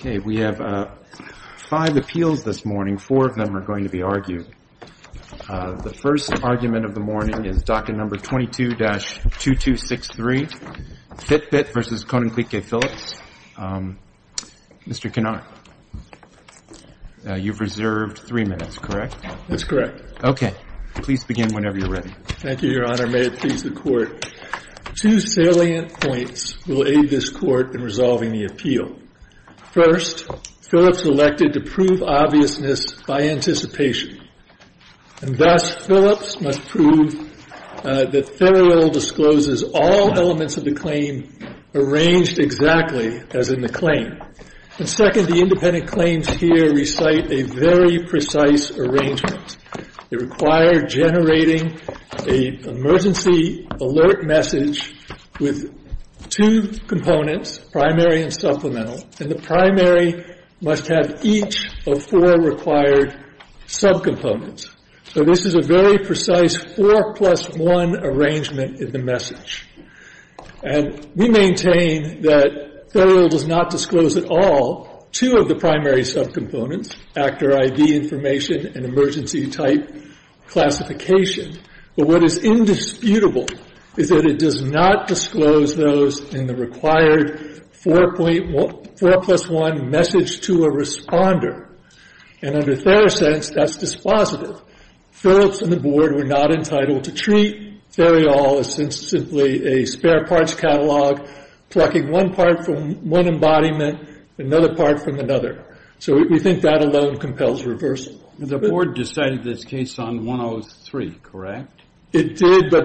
Okay, we have five appeals this morning, four of them are going to be argued. The first argument of the morning is Doctrine No. 22-2263, Fitbit v. Koninklijke Philips. Mr. Kinodt, you've reserved three minutes, correct? That's correct. Okay. Please begin whenever you're ready. Two salient points will aid this court in resolving the appeal. First, Philips elected to prove obviousness by anticipation. And thus, Philips must prove that Federalil discloses all elements of the claim arranged exactly as in the claim. And second, the independent claims here recite a very precise arrangement. It required generating an emergency alert message with two components, primary and supplemental, and the primary must have each of four required subcomponents. So this is a very precise four-plus-one arrangement in the message. And we maintain that Federalil does not disclose at all two of the primary subcomponents, actor ID information and emergency type classification. But what is indisputable is that it does not disclose those in the required four-plus-one message to a responder. And under Therosense, that's dispositive. So we think that that alone compels reversal. The board decided this case on 103, correct? It did, but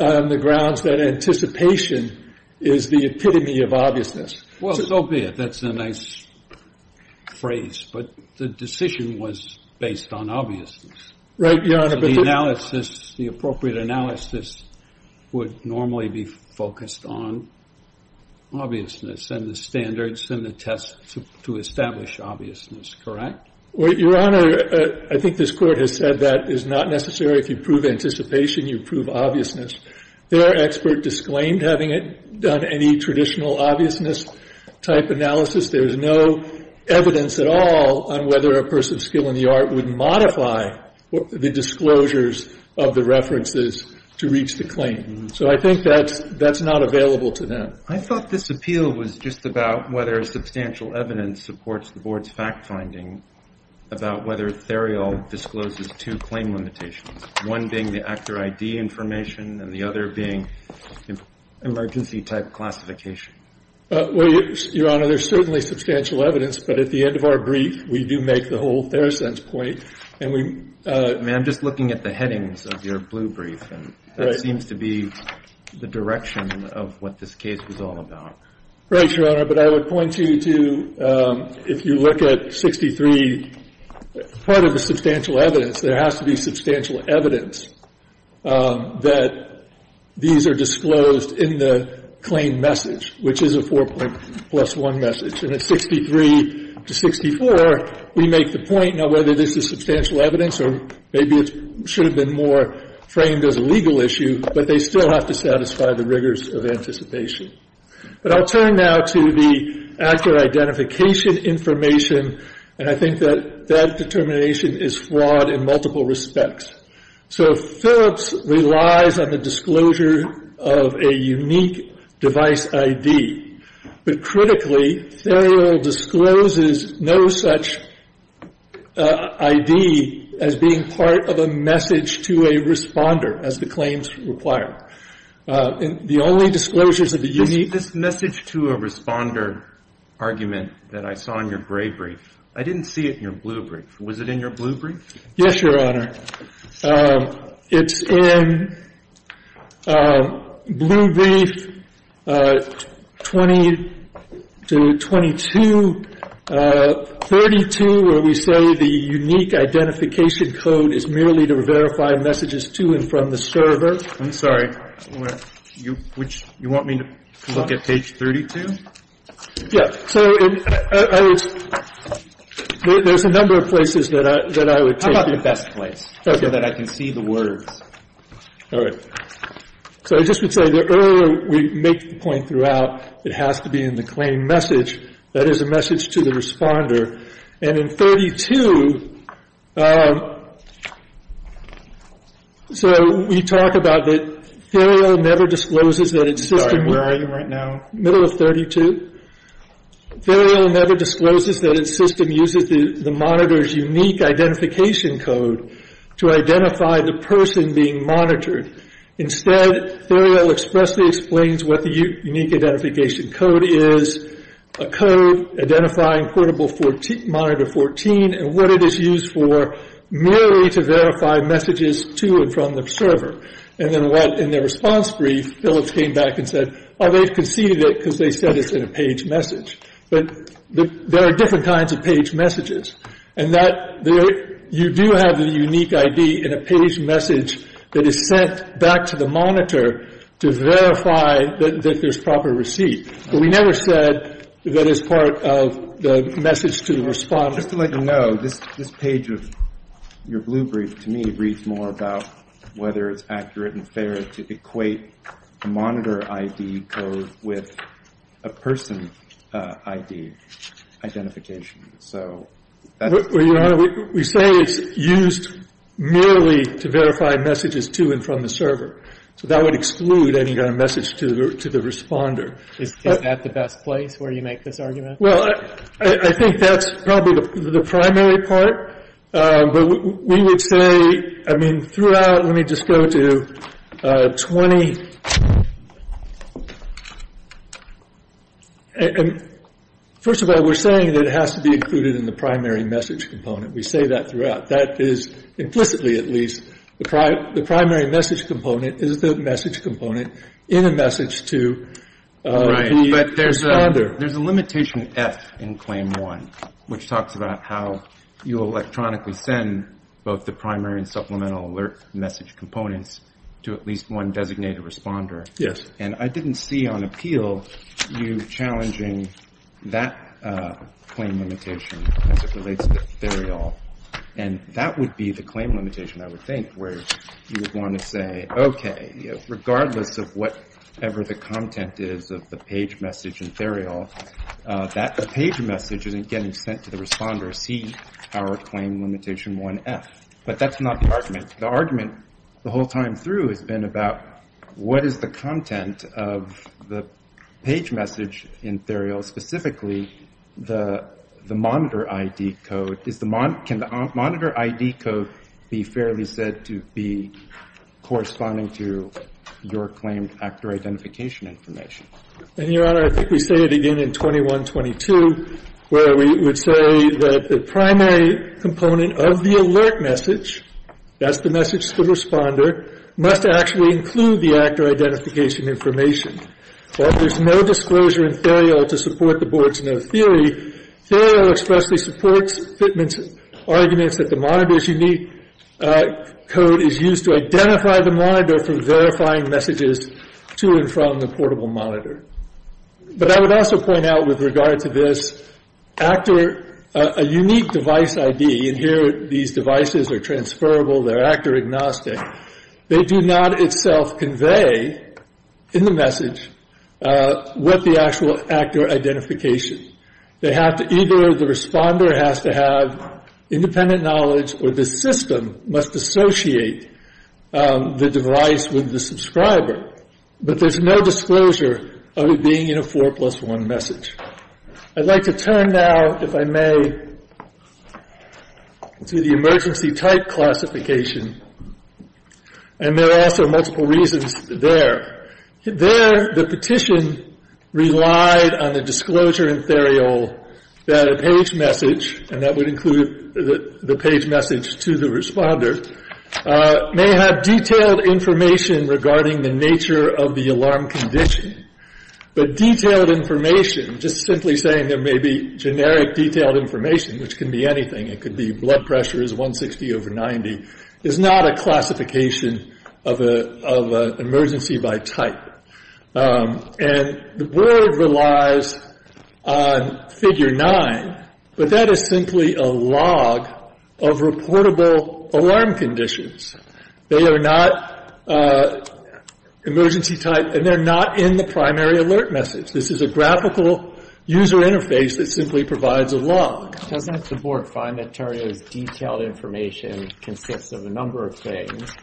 on the grounds that anticipation is the epitome of obviousness. Well, so be it. That's a nice phrase. But the decision was based on obviousness. Right, Your Honor. But the analysis, the appropriate analysis would normally be focused on obviousness and the standards and the tests to establish obviousness, correct? Well, Your Honor, I think this Court has said that is not necessary. If you prove anticipation, you prove obviousness. There are experts disclaimed having done any traditional obviousness-type analysis. There is no evidence at all on whether a person's skill in the art would modify the disclosures of the references to reach the claim. So I think that's not available to them. I thought this appeal was just about whether substantial evidence supports the board's fact-finding about whether Theriault discloses two claim limitations, one being the actor ID information and the other being emergency-type classification. Well, Your Honor, there's certainly substantial evidence. But at the end of our brief, we do make the whole Theracent's point. And we — I mean, I'm just looking at the headings of your blue brief. Right. And that seems to be the direction of what this case was all about. Right, Your Honor. But I would point you to, if you look at 63, part of the substantial evidence, there has to be substantial evidence that these are disclosed in the claim message, which is a 4-point-plus-1 message. And at 63 to 64, we make the point, now, whether this is substantial evidence or maybe it should have been more framed as a legal issue, but they still have to satisfy the rigors of anticipation. But I'll turn now to the actor identification information. And I think that that determination is flawed in multiple respects. So Phillips relies on the disclosure of a unique device ID. But critically, Therial discloses no such ID as being part of a message to a responder, as the claims require. The only disclosures of the unique — I have not seen this particular argument that I saw in your gray brief. I didn't see it in your blue brief. Was it in your blue brief? Yes, Your Honor. It's in blue brief 20 to 2232, where we say the unique identification code is merely to verify messages to and from the server. I'm sorry. You want me to look at page 32? Yes. So there's a number of places that I would take you. I would take you to the best place so that I can see the words. All right. So I just would say the earlier we make the point throughout, it has to be in the claim message. That is a message to the responder. And in 32, so we talk about that Theriot never discloses that its system... I'm sorry. Where are you right now? Middle of 32. Theriot never discloses that its system uses the monitor's unique identification code to identify the person being monitored. Instead, Theriot expressly explains what the unique identification code is, a code identifying portable monitor 14, and what it is used for, merely to verify messages to and from the server. And then what, in the response brief, Phillips came back and said, oh, they've conceded it because they said it's in a page message. But there are different kinds of page messages. And that you do have the unique ID in a page message that is sent back to the monitor to verify that there's proper receipt. But we never said that it's part of the message to the responder. Well, just to let you know, this page of your blue brief, to me, reads more about whether it's accurate and fair to equate a monitor ID code with a person ID identification. So that's... Well, Your Honor, we say it's used merely to verify messages to and from the server. So that would exclude any kind of message to the responder. Is that the best place where you make this argument? Well, I think that's probably the primary part. But we would say, I mean, throughout... Let me just go to 20... First of all, we're saying that it has to be included in the primary message component. We say that throughout. That is implicitly, at least, the primary message component is the message component in a message to the responder. Your Honor, there's a limitation, F, in Claim 1, which talks about how you electronically send both the primary and supplemental alert message components to at least one designated responder. Yes. And I didn't see on appeal you challenging that claim limitation as it relates to Theriol. And that would be the claim limitation, I would think, where you would want to say, okay, regardless of whatever the content is of the page message in Theriol, that page message isn't getting sent to the responder, C, our claim limitation 1F. But that's not the argument. The argument the whole time through has been about what is the content of the page message in Theriol, specifically the monitor ID code. Can the monitor ID code be fairly said to be corresponding to your claim actor identification information? And, Your Honor, I think we say it again in 21-22, where we would say that the primary component of the alert message, that's the message to the responder, must actually include the actor identification information. While there's no disclosure in Theriol to support the Board's no theory, Theriol expressly supports Fitment's arguments that the monitor's unique code is used to identify the monitor from verifying messages to and from the portable monitor. But I would also point out with regard to this, actor, a unique device ID, and here these devices are transferable, they're actor agnostic, they do not itself convey in the message what the actual actor identification. They have to either, the responder has to have independent knowledge or the system must associate the device with the subscriber. But there's no disclosure of it being in a 4 plus 1 message. I'd like to turn now, if I may, to the emergency type classification. And there are also multiple reasons there. There the petition relied on the disclosure in Theriol that a page message, and that would include the page message to the responder, may have detailed information regarding the nature of the alarm condition. But detailed information, just simply saying there may be generic detailed information, which can be anything, it could be blood pressure is 160 over 90, is not a classification of an emergency by type. And the Board relies on figure 9, but that is simply a log of reportable alarm conditions. They are not emergency type, and they're not in the primary alert message. This is a graphical user interface that simply provides a log. Does the Board find that Theriol's detailed information consists of a number of things,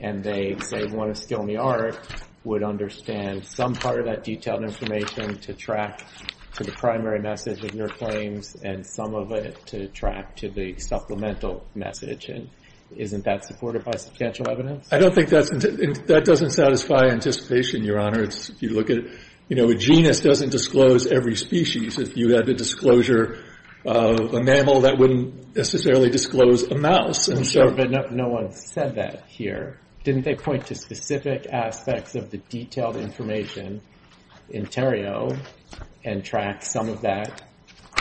and they, say, want to steal the art, would understand some part of that detailed information to track to the primary message of your claims, and some of it to track to the supplemental message? And isn't that supported by substantial evidence? I don't think that's – that doesn't satisfy anticipation, Your Honor. If you look at – you know, a genus doesn't disclose every species. If you had the disclosure of a mammal, that wouldn't necessarily disclose a mouse. I'm sure, but no one said that here. Didn't they point to specific aspects of the detailed information in Theriol and track some of that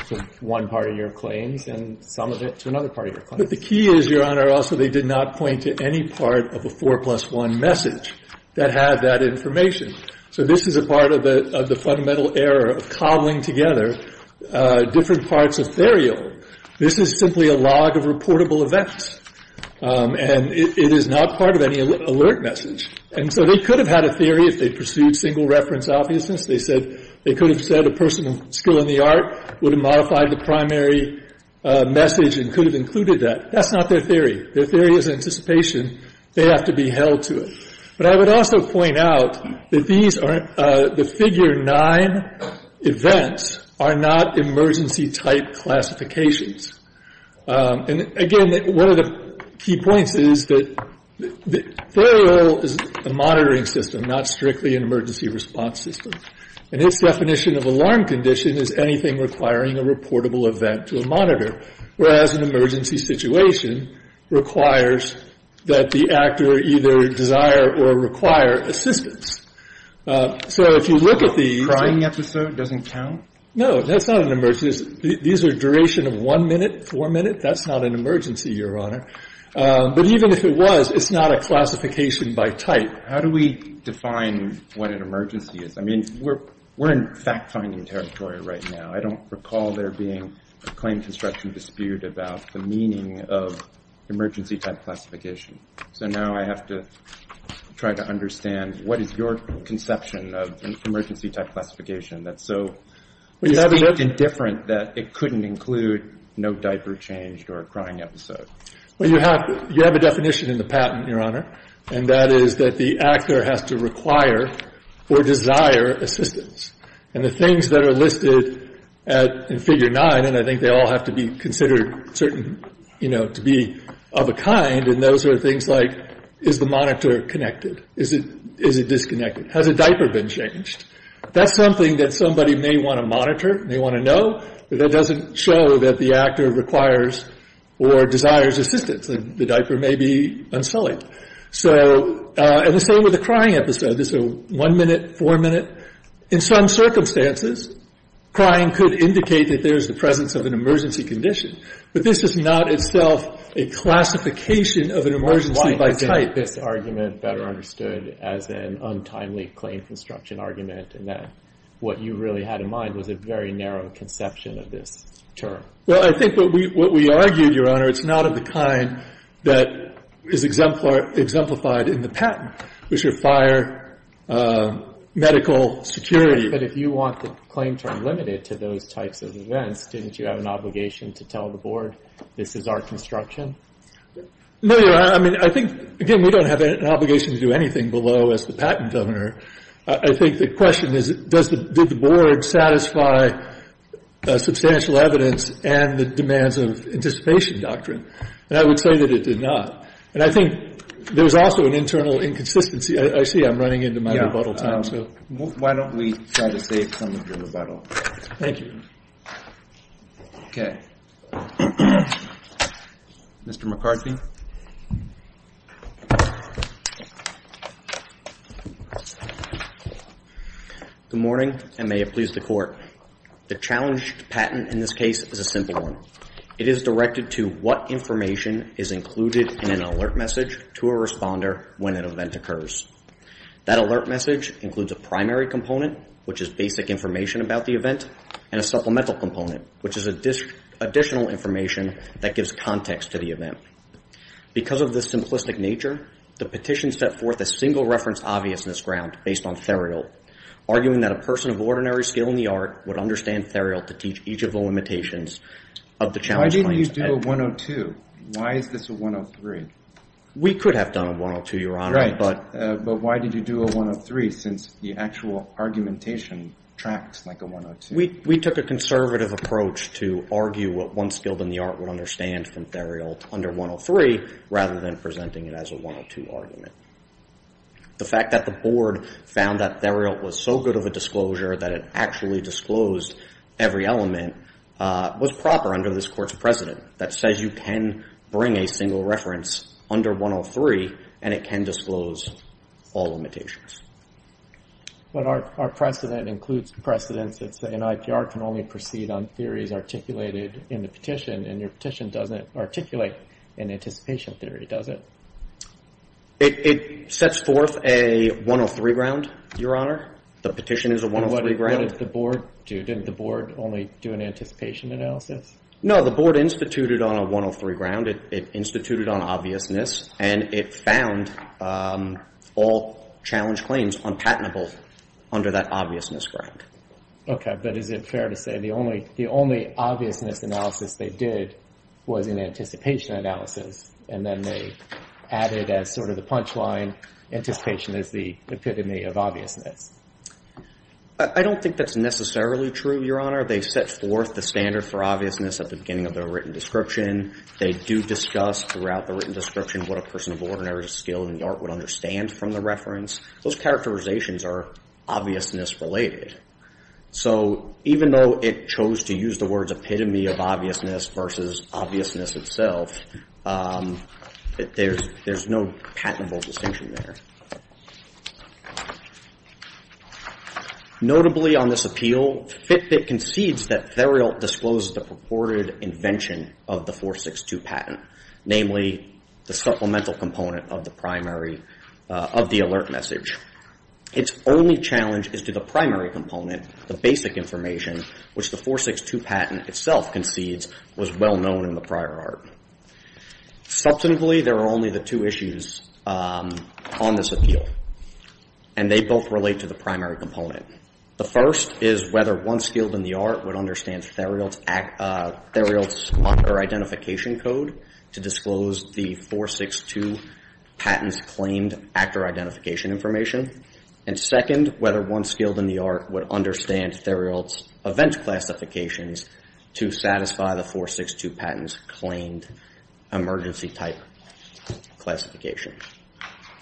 to one part of your claims and some of it to another part of your claims? But the key is, Your Honor, also they did not point to any part of a 4 plus 1 message that had that information. So this is a part of the fundamental error of cobbling together different parts of Theriol. This is simply a log of reportable events, and it is not part of any alert message. And so they could have had a theory if they pursued single reference obviousness. They said – they could have said a person of skill in the art would have modified the primary message and could have included that. That's not their theory. Their theory is anticipation. They have to be held to it. But I would also point out that these are – the figure 9 events are not emergency type classifications. And, again, one of the key points is that Theriol is a monitoring system, not strictly an emergency response system. And its definition of alarm condition is anything requiring a reportable event to a monitor, whereas an emergency situation requires that the actor either desire or require assistance. So if you look at these – Breyer, Crying episode doesn't count? No, that's not an emergency. These are duration of one minute, four minutes. That's not an emergency, Your Honor. But even if it was, it's not a classification by type. How do we define what an emergency is? I mean, we're in fact-finding territory right now. I don't recall there being a claim construction dispute about the meaning of emergency type classification. So now I have to try to understand, what is your conception of emergency type classification? That's so indifferent that it couldn't include no diaper change or a crying episode. Well, you have a definition in the patent, Your Honor, and that is that the actor has to require or desire assistance. And the things that are listed in Figure 9, and I think they all have to be considered certain, you know, to be of a kind, and those are things like, is the monitor connected? Is it disconnected? Has a diaper been changed? That's something that somebody may want to monitor, may want to know, but that doesn't show that the actor requires or desires assistance. The diaper may be unsullied. So, and the same with the crying episode. This is a one-minute, four-minute. In some circumstances, crying could indicate that there's the presence of an emergency condition, but this is not itself a classification of an emergency by type. Why isn't this argument better understood as an untimely claim construction argument and that what you really had in mind was a very narrow conception of this term? Well, I think what we argue, Your Honor, it's not of the kind that is exemplified in the patent, which are fire, medical, security. But if you want the claim term limited to those types of events, didn't you have an obligation to tell the Board this is our construction? No, Your Honor. I mean, I think, again, we don't have an obligation to do anything below as the patent donor. I think the question is, did the Board satisfy substantial evidence and the demands of anticipation doctrine? And I would say that it did not. And I think there was also an internal inconsistency. I see I'm running into my rebuttal time, so. Why don't we try to save some of your rebuttal time? Thank you. Okay. Mr. McCarthy. Good morning. Good morning, and may it please the Court. The challenged patent in this case is a simple one. It is directed to what information is included in an alert message to a responder when an event occurs. That alert message includes a primary component, which is basic information about the event, and a supplemental component, which is additional information that gives context to the event. Because of the simplistic nature, the petition set forth a single reference obviousness ground based on Theriault, arguing that a person of ordinary skill in the art would understand Theriault to teach each of the limitations of the challenge claims. Why didn't you do a 102? Why is this a 103? We could have done a 102, Your Honor. Right. But why did you do a 103 since the actual argumentation tracks like a 102? We took a conservative approach to argue what one skilled in the art would understand from Theriault under 103 rather than presenting it as a 102 argument. The fact that the Board found that Theriault was so good of a disclosure that it actually disclosed every element was proper under this Court's precedent that says you can bring a single reference under 103, and it can disclose all limitations. But our precedent includes precedents that say an IPR can only proceed on theories articulated in the petition, and your petition doesn't articulate an anticipation theory, does it? It sets forth a 103 ground, Your Honor. The petition is a 103 ground. What did the Board do? Didn't the Board only do an anticipation analysis? No, the Board instituted on a 103 ground. It instituted on obviousness, and it found all challenge claims unpatentable under that obviousness ground. Okay. But is it fair to say the only obviousness analysis they did was an anticipation analysis, and then they added as sort of the punchline, anticipation is the epitome of obviousness? I don't think that's necessarily true, Your Honor. They set forth the standard for obviousness at the beginning of their written description. They do discuss throughout the written description what a person of ordinary skill in the art would understand from the reference. Those characterizations are obviousness-related. So even though it chose to use the words epitome of obviousness versus obviousness itself, there's no patentable distinction there. Notably on this appeal, Fitbit concedes that Theriault discloses the purported invention of the 462 patent, namely the supplemental component of the alert message. Its only challenge is to the primary component, the basic information, which the 462 patent itself concedes was well-known in the prior art. Subsequently, there are only the two issues on this appeal, and they both relate to the primary component. The first is whether one skilled in the art would understand Theriault's marker identification code to disclose the 462 patent's claimed actor identification information. And second, whether one skilled in the art would understand Theriault's event classifications to satisfy the 462 patent's claimed emergency type classification.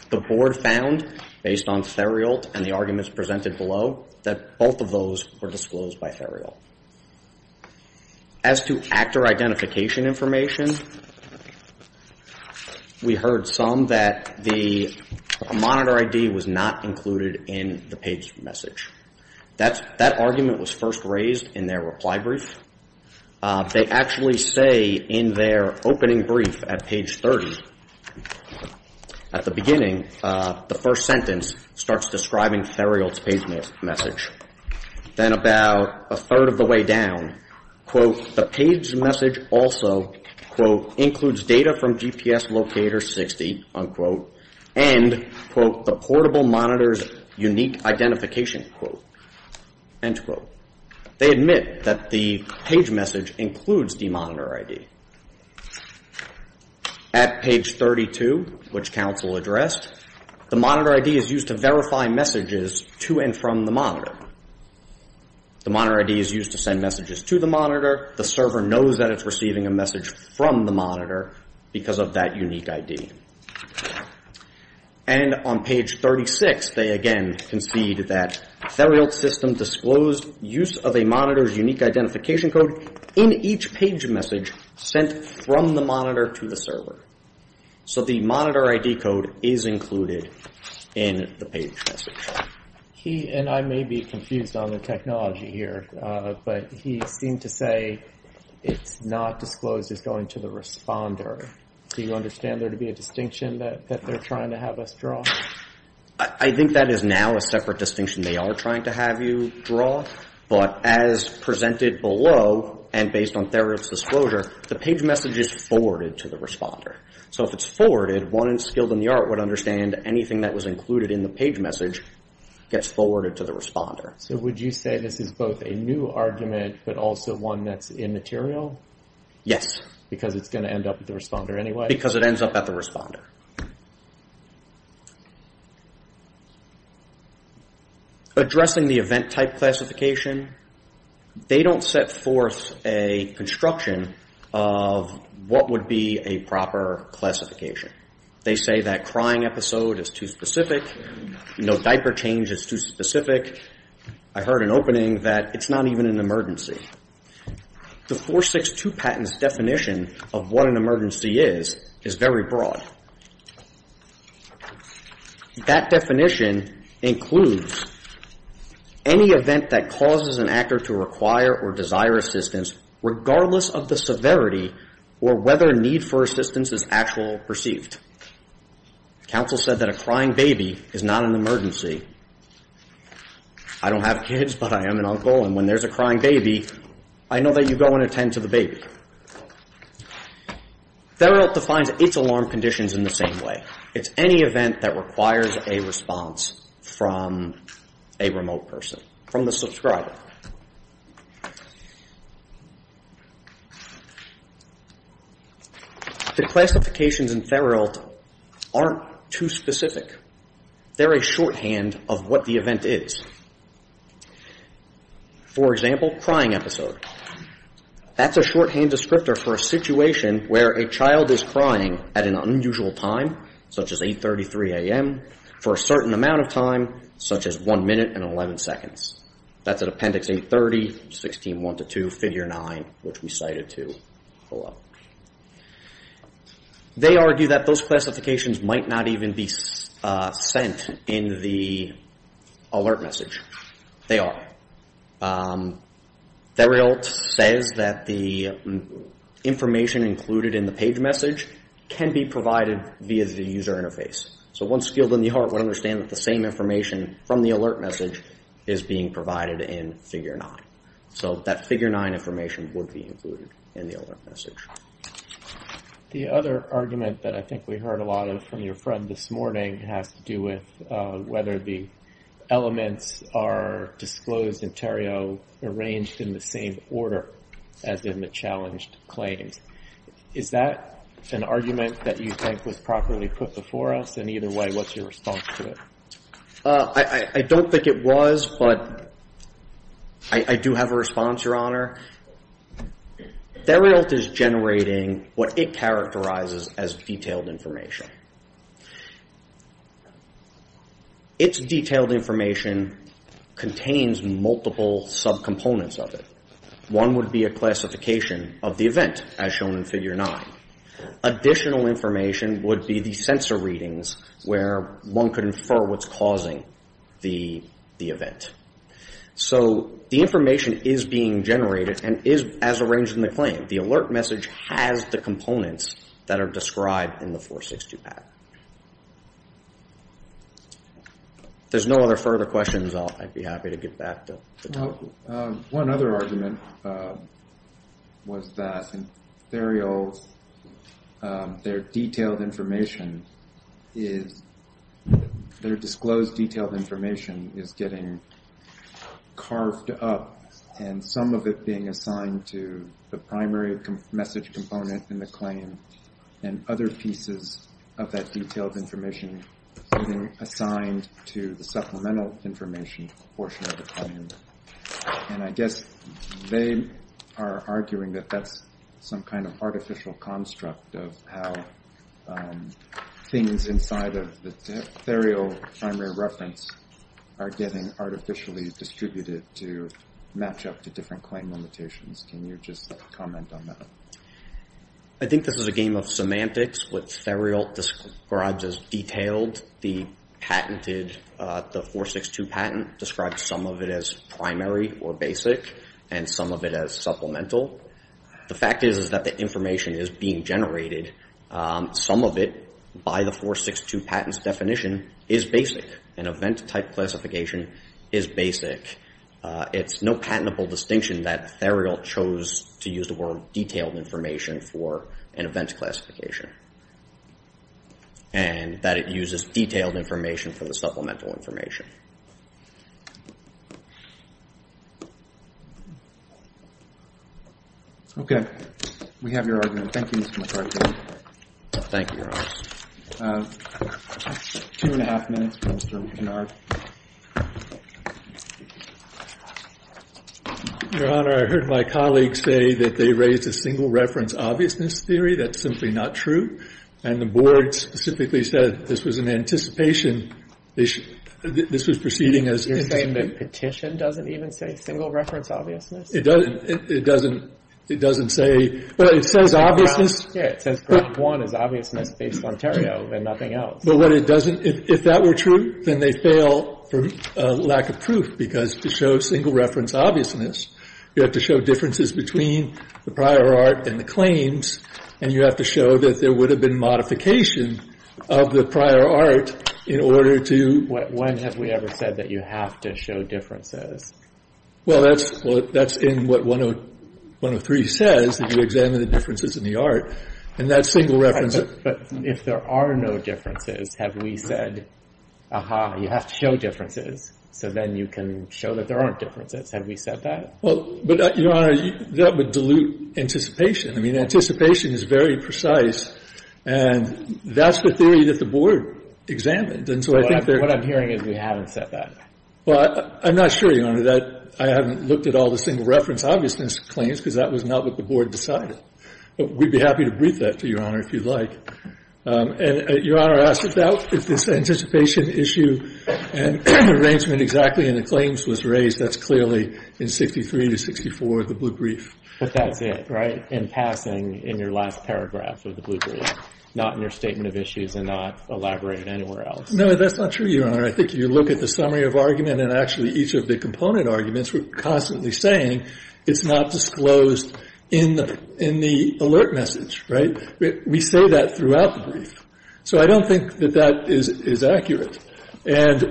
The board found, based on Theriault and the arguments presented below, that both of those were disclosed by Theriault. As to actor identification information, we heard some that the monitor ID was not included in the page message. That argument was first raised in their reply brief. They actually say in their opening brief at page 30, at the beginning the first sentence starts describing Theriault's page message. Then about a third of the way down, quote, the page message also, quote, includes data from GPS locator 60, unquote, and, quote, the portable monitor's unique identification, quote, end quote. They admit that the page message includes the monitor ID. At page 32, which counsel addressed, the monitor ID is used to verify messages to and from the monitor. The monitor ID is used to send messages to the monitor. The server knows that it's receiving a message from the monitor because of that unique ID. And on page 36, they, again, concede that Theriault's system disclosed use of a monitor's unique identification code in each page message sent from the monitor to the server. So the monitor ID code is included in the page message. He and I may be confused on the technology here, but he seemed to say it's not disclosed as going to the responder. Do you understand there to be a distinction that they're trying to have us draw? I think that is now a separate distinction they are trying to have you draw. But as presented below and based on Theriault's disclosure, the page message is forwarded to the responder. So if it's forwarded, one skilled in the art would understand anything that was included in the page message gets forwarded to the responder. So would you say this is both a new argument but also one that's immaterial? Yes. Because it's going to end up at the responder anyway? Because it ends up at the responder. Addressing the event type classification, they don't set forth a construction of what would be a proper classification. They say that crying episode is too specific, diaper change is too specific. I heard an opening that it's not even an emergency. The 462 patent's definition of what an emergency is is very broad. That definition includes any event that causes an actor to require or desire assistance regardless of the severity or whether a need for assistance is actually perceived. Counsel said that a crying baby is not an emergency. I don't have kids but I am an uncle and when there's a crying baby, I know that you go and attend to the baby. Therault defines its alarm conditions in the same way. It's any event that requires a response from a remote person, from the subscriber. The classifications in Therault aren't too specific. They're a shorthand of what the event is. For example, crying episode. That's a shorthand descriptor for a situation where a child is crying at an unusual time, such as 8.33 a.m., for a certain amount of time, such as 1 minute and 11 seconds. That's at appendix 830, 16.1-2, figure 9, which we cited to follow up. They argue that those classifications might not even be sent in the alert message. They are. Therault says that the information included in the page message can be provided via the user interface. So one skilled in the art would understand that the same information from the alert message is being provided in figure 9. So that figure 9 information would be included in the alert message. The other argument that I think we heard a lot of from your friend this morning has to do with whether the elements are disclosed in Therault arranged in the same order as in the challenged claims. Is that an argument that you think was properly put before us? And either way, what's your response to it? I don't think it was, but I do have a response, Your Honor. Therault is generating what it characterizes as detailed information. Its detailed information contains multiple subcomponents of it. One would be a classification of the event, as shown in figure 9. Additional information would be the sensor readings where one could infer what's causing the event. So the information is being generated and is as arranged in the claim. The alert message has the components that are described in the 462 PAC. If there's no other further questions, I'd be happy to get back to the topic. One other argument was that in Therault, their disclosed detailed information is getting carved up and some of it being assigned to the primary message component in the claim and other pieces of that detailed information being assigned to the supplemental information portion of the claim. And I guess they are arguing that that's some kind of artificial construct of how things inside of the Therault primary reference are getting artificially distributed to match up to different claim limitations. Can you just comment on that? I think this is a game of semantics. What Therault describes as detailed, the 462 patent describes some of it as primary or basic and some of it as supplemental. The fact is that the information is being generated. Some of it, by the 462 patent's definition, is basic. An event-type classification is basic. It's no patentable distinction that Therault chose to use the word detailed information for an event classification and that it uses detailed information for the supplemental information. Okay. We have your argument. Thank you, Mr. McCarthy. Thank you, Your Honor. Two and a half minutes for Mr. Kinnard. Your Honor, I heard my colleagues say that they raised a single reference obviousness theory. That's simply not true. And the board specifically said this was in anticipation. This was proceeding as... You're saying that petition doesn't even say single reference obviousness? It doesn't. It doesn't. It doesn't say... But it says obviousness. Yeah, it says graph one is obviousness based on Therault and nothing else. But what it doesn't... If that were true, then they fail for lack of proof because to show single reference obviousness, you have to show differences between the prior art and the claims and you have to show that there would have been modification of the prior art in order to... When have we ever said that you have to show differences? Well, that's in what 103 says, that you examine the differences in the art, and that single reference... But if there are no differences, have we said, aha, you have to show differences so then you can show that there aren't differences? Have we said that? But, Your Honor, that would dilute anticipation. I mean, anticipation is very precise, and that's the theory that the Board examined. And so I think there... What I'm hearing is we haven't said that. Well, I'm not sure, Your Honor, that I haven't looked at all the single reference obviousness claims because that was not what the Board decided. But we'd be happy to brief that to you, Your Honor, if you'd like. And Your Honor asked about if this anticipation issue and arrangement exactly in the claims was raised. That's clearly in 63 to 64, the blue brief. But that's it, right? In passing, in your last paragraph of the blue brief, not in your statement of issues and not elaborated anywhere else. No, that's not true, Your Honor. I think if you look at the summary of argument and actually each of the component arguments, we're constantly saying it's not disclosed in the alert message, right? We say that throughout the brief. So I don't think that that is accurate. And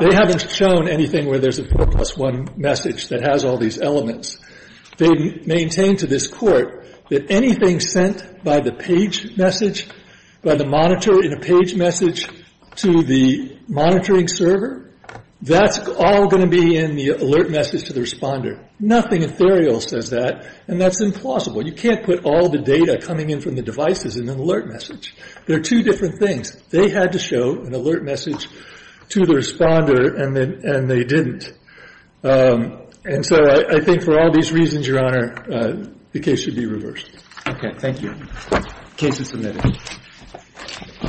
they haven't shown anything where there's a 4 plus 1 message that has all these elements. They maintain to this Court that anything sent by the page message, by the monitor in a page message to the monitoring server, that's all going to be in the alert message to the responder. Nothing ethereal says that, and that's implausible. You can't put all the data coming in from the devices in an alert message. They're two different things. They had to show an alert message to the responder, and they didn't. And so I think for all these reasons, Your Honor, the case should be reversed. Okay. Thank you. Case is submitted.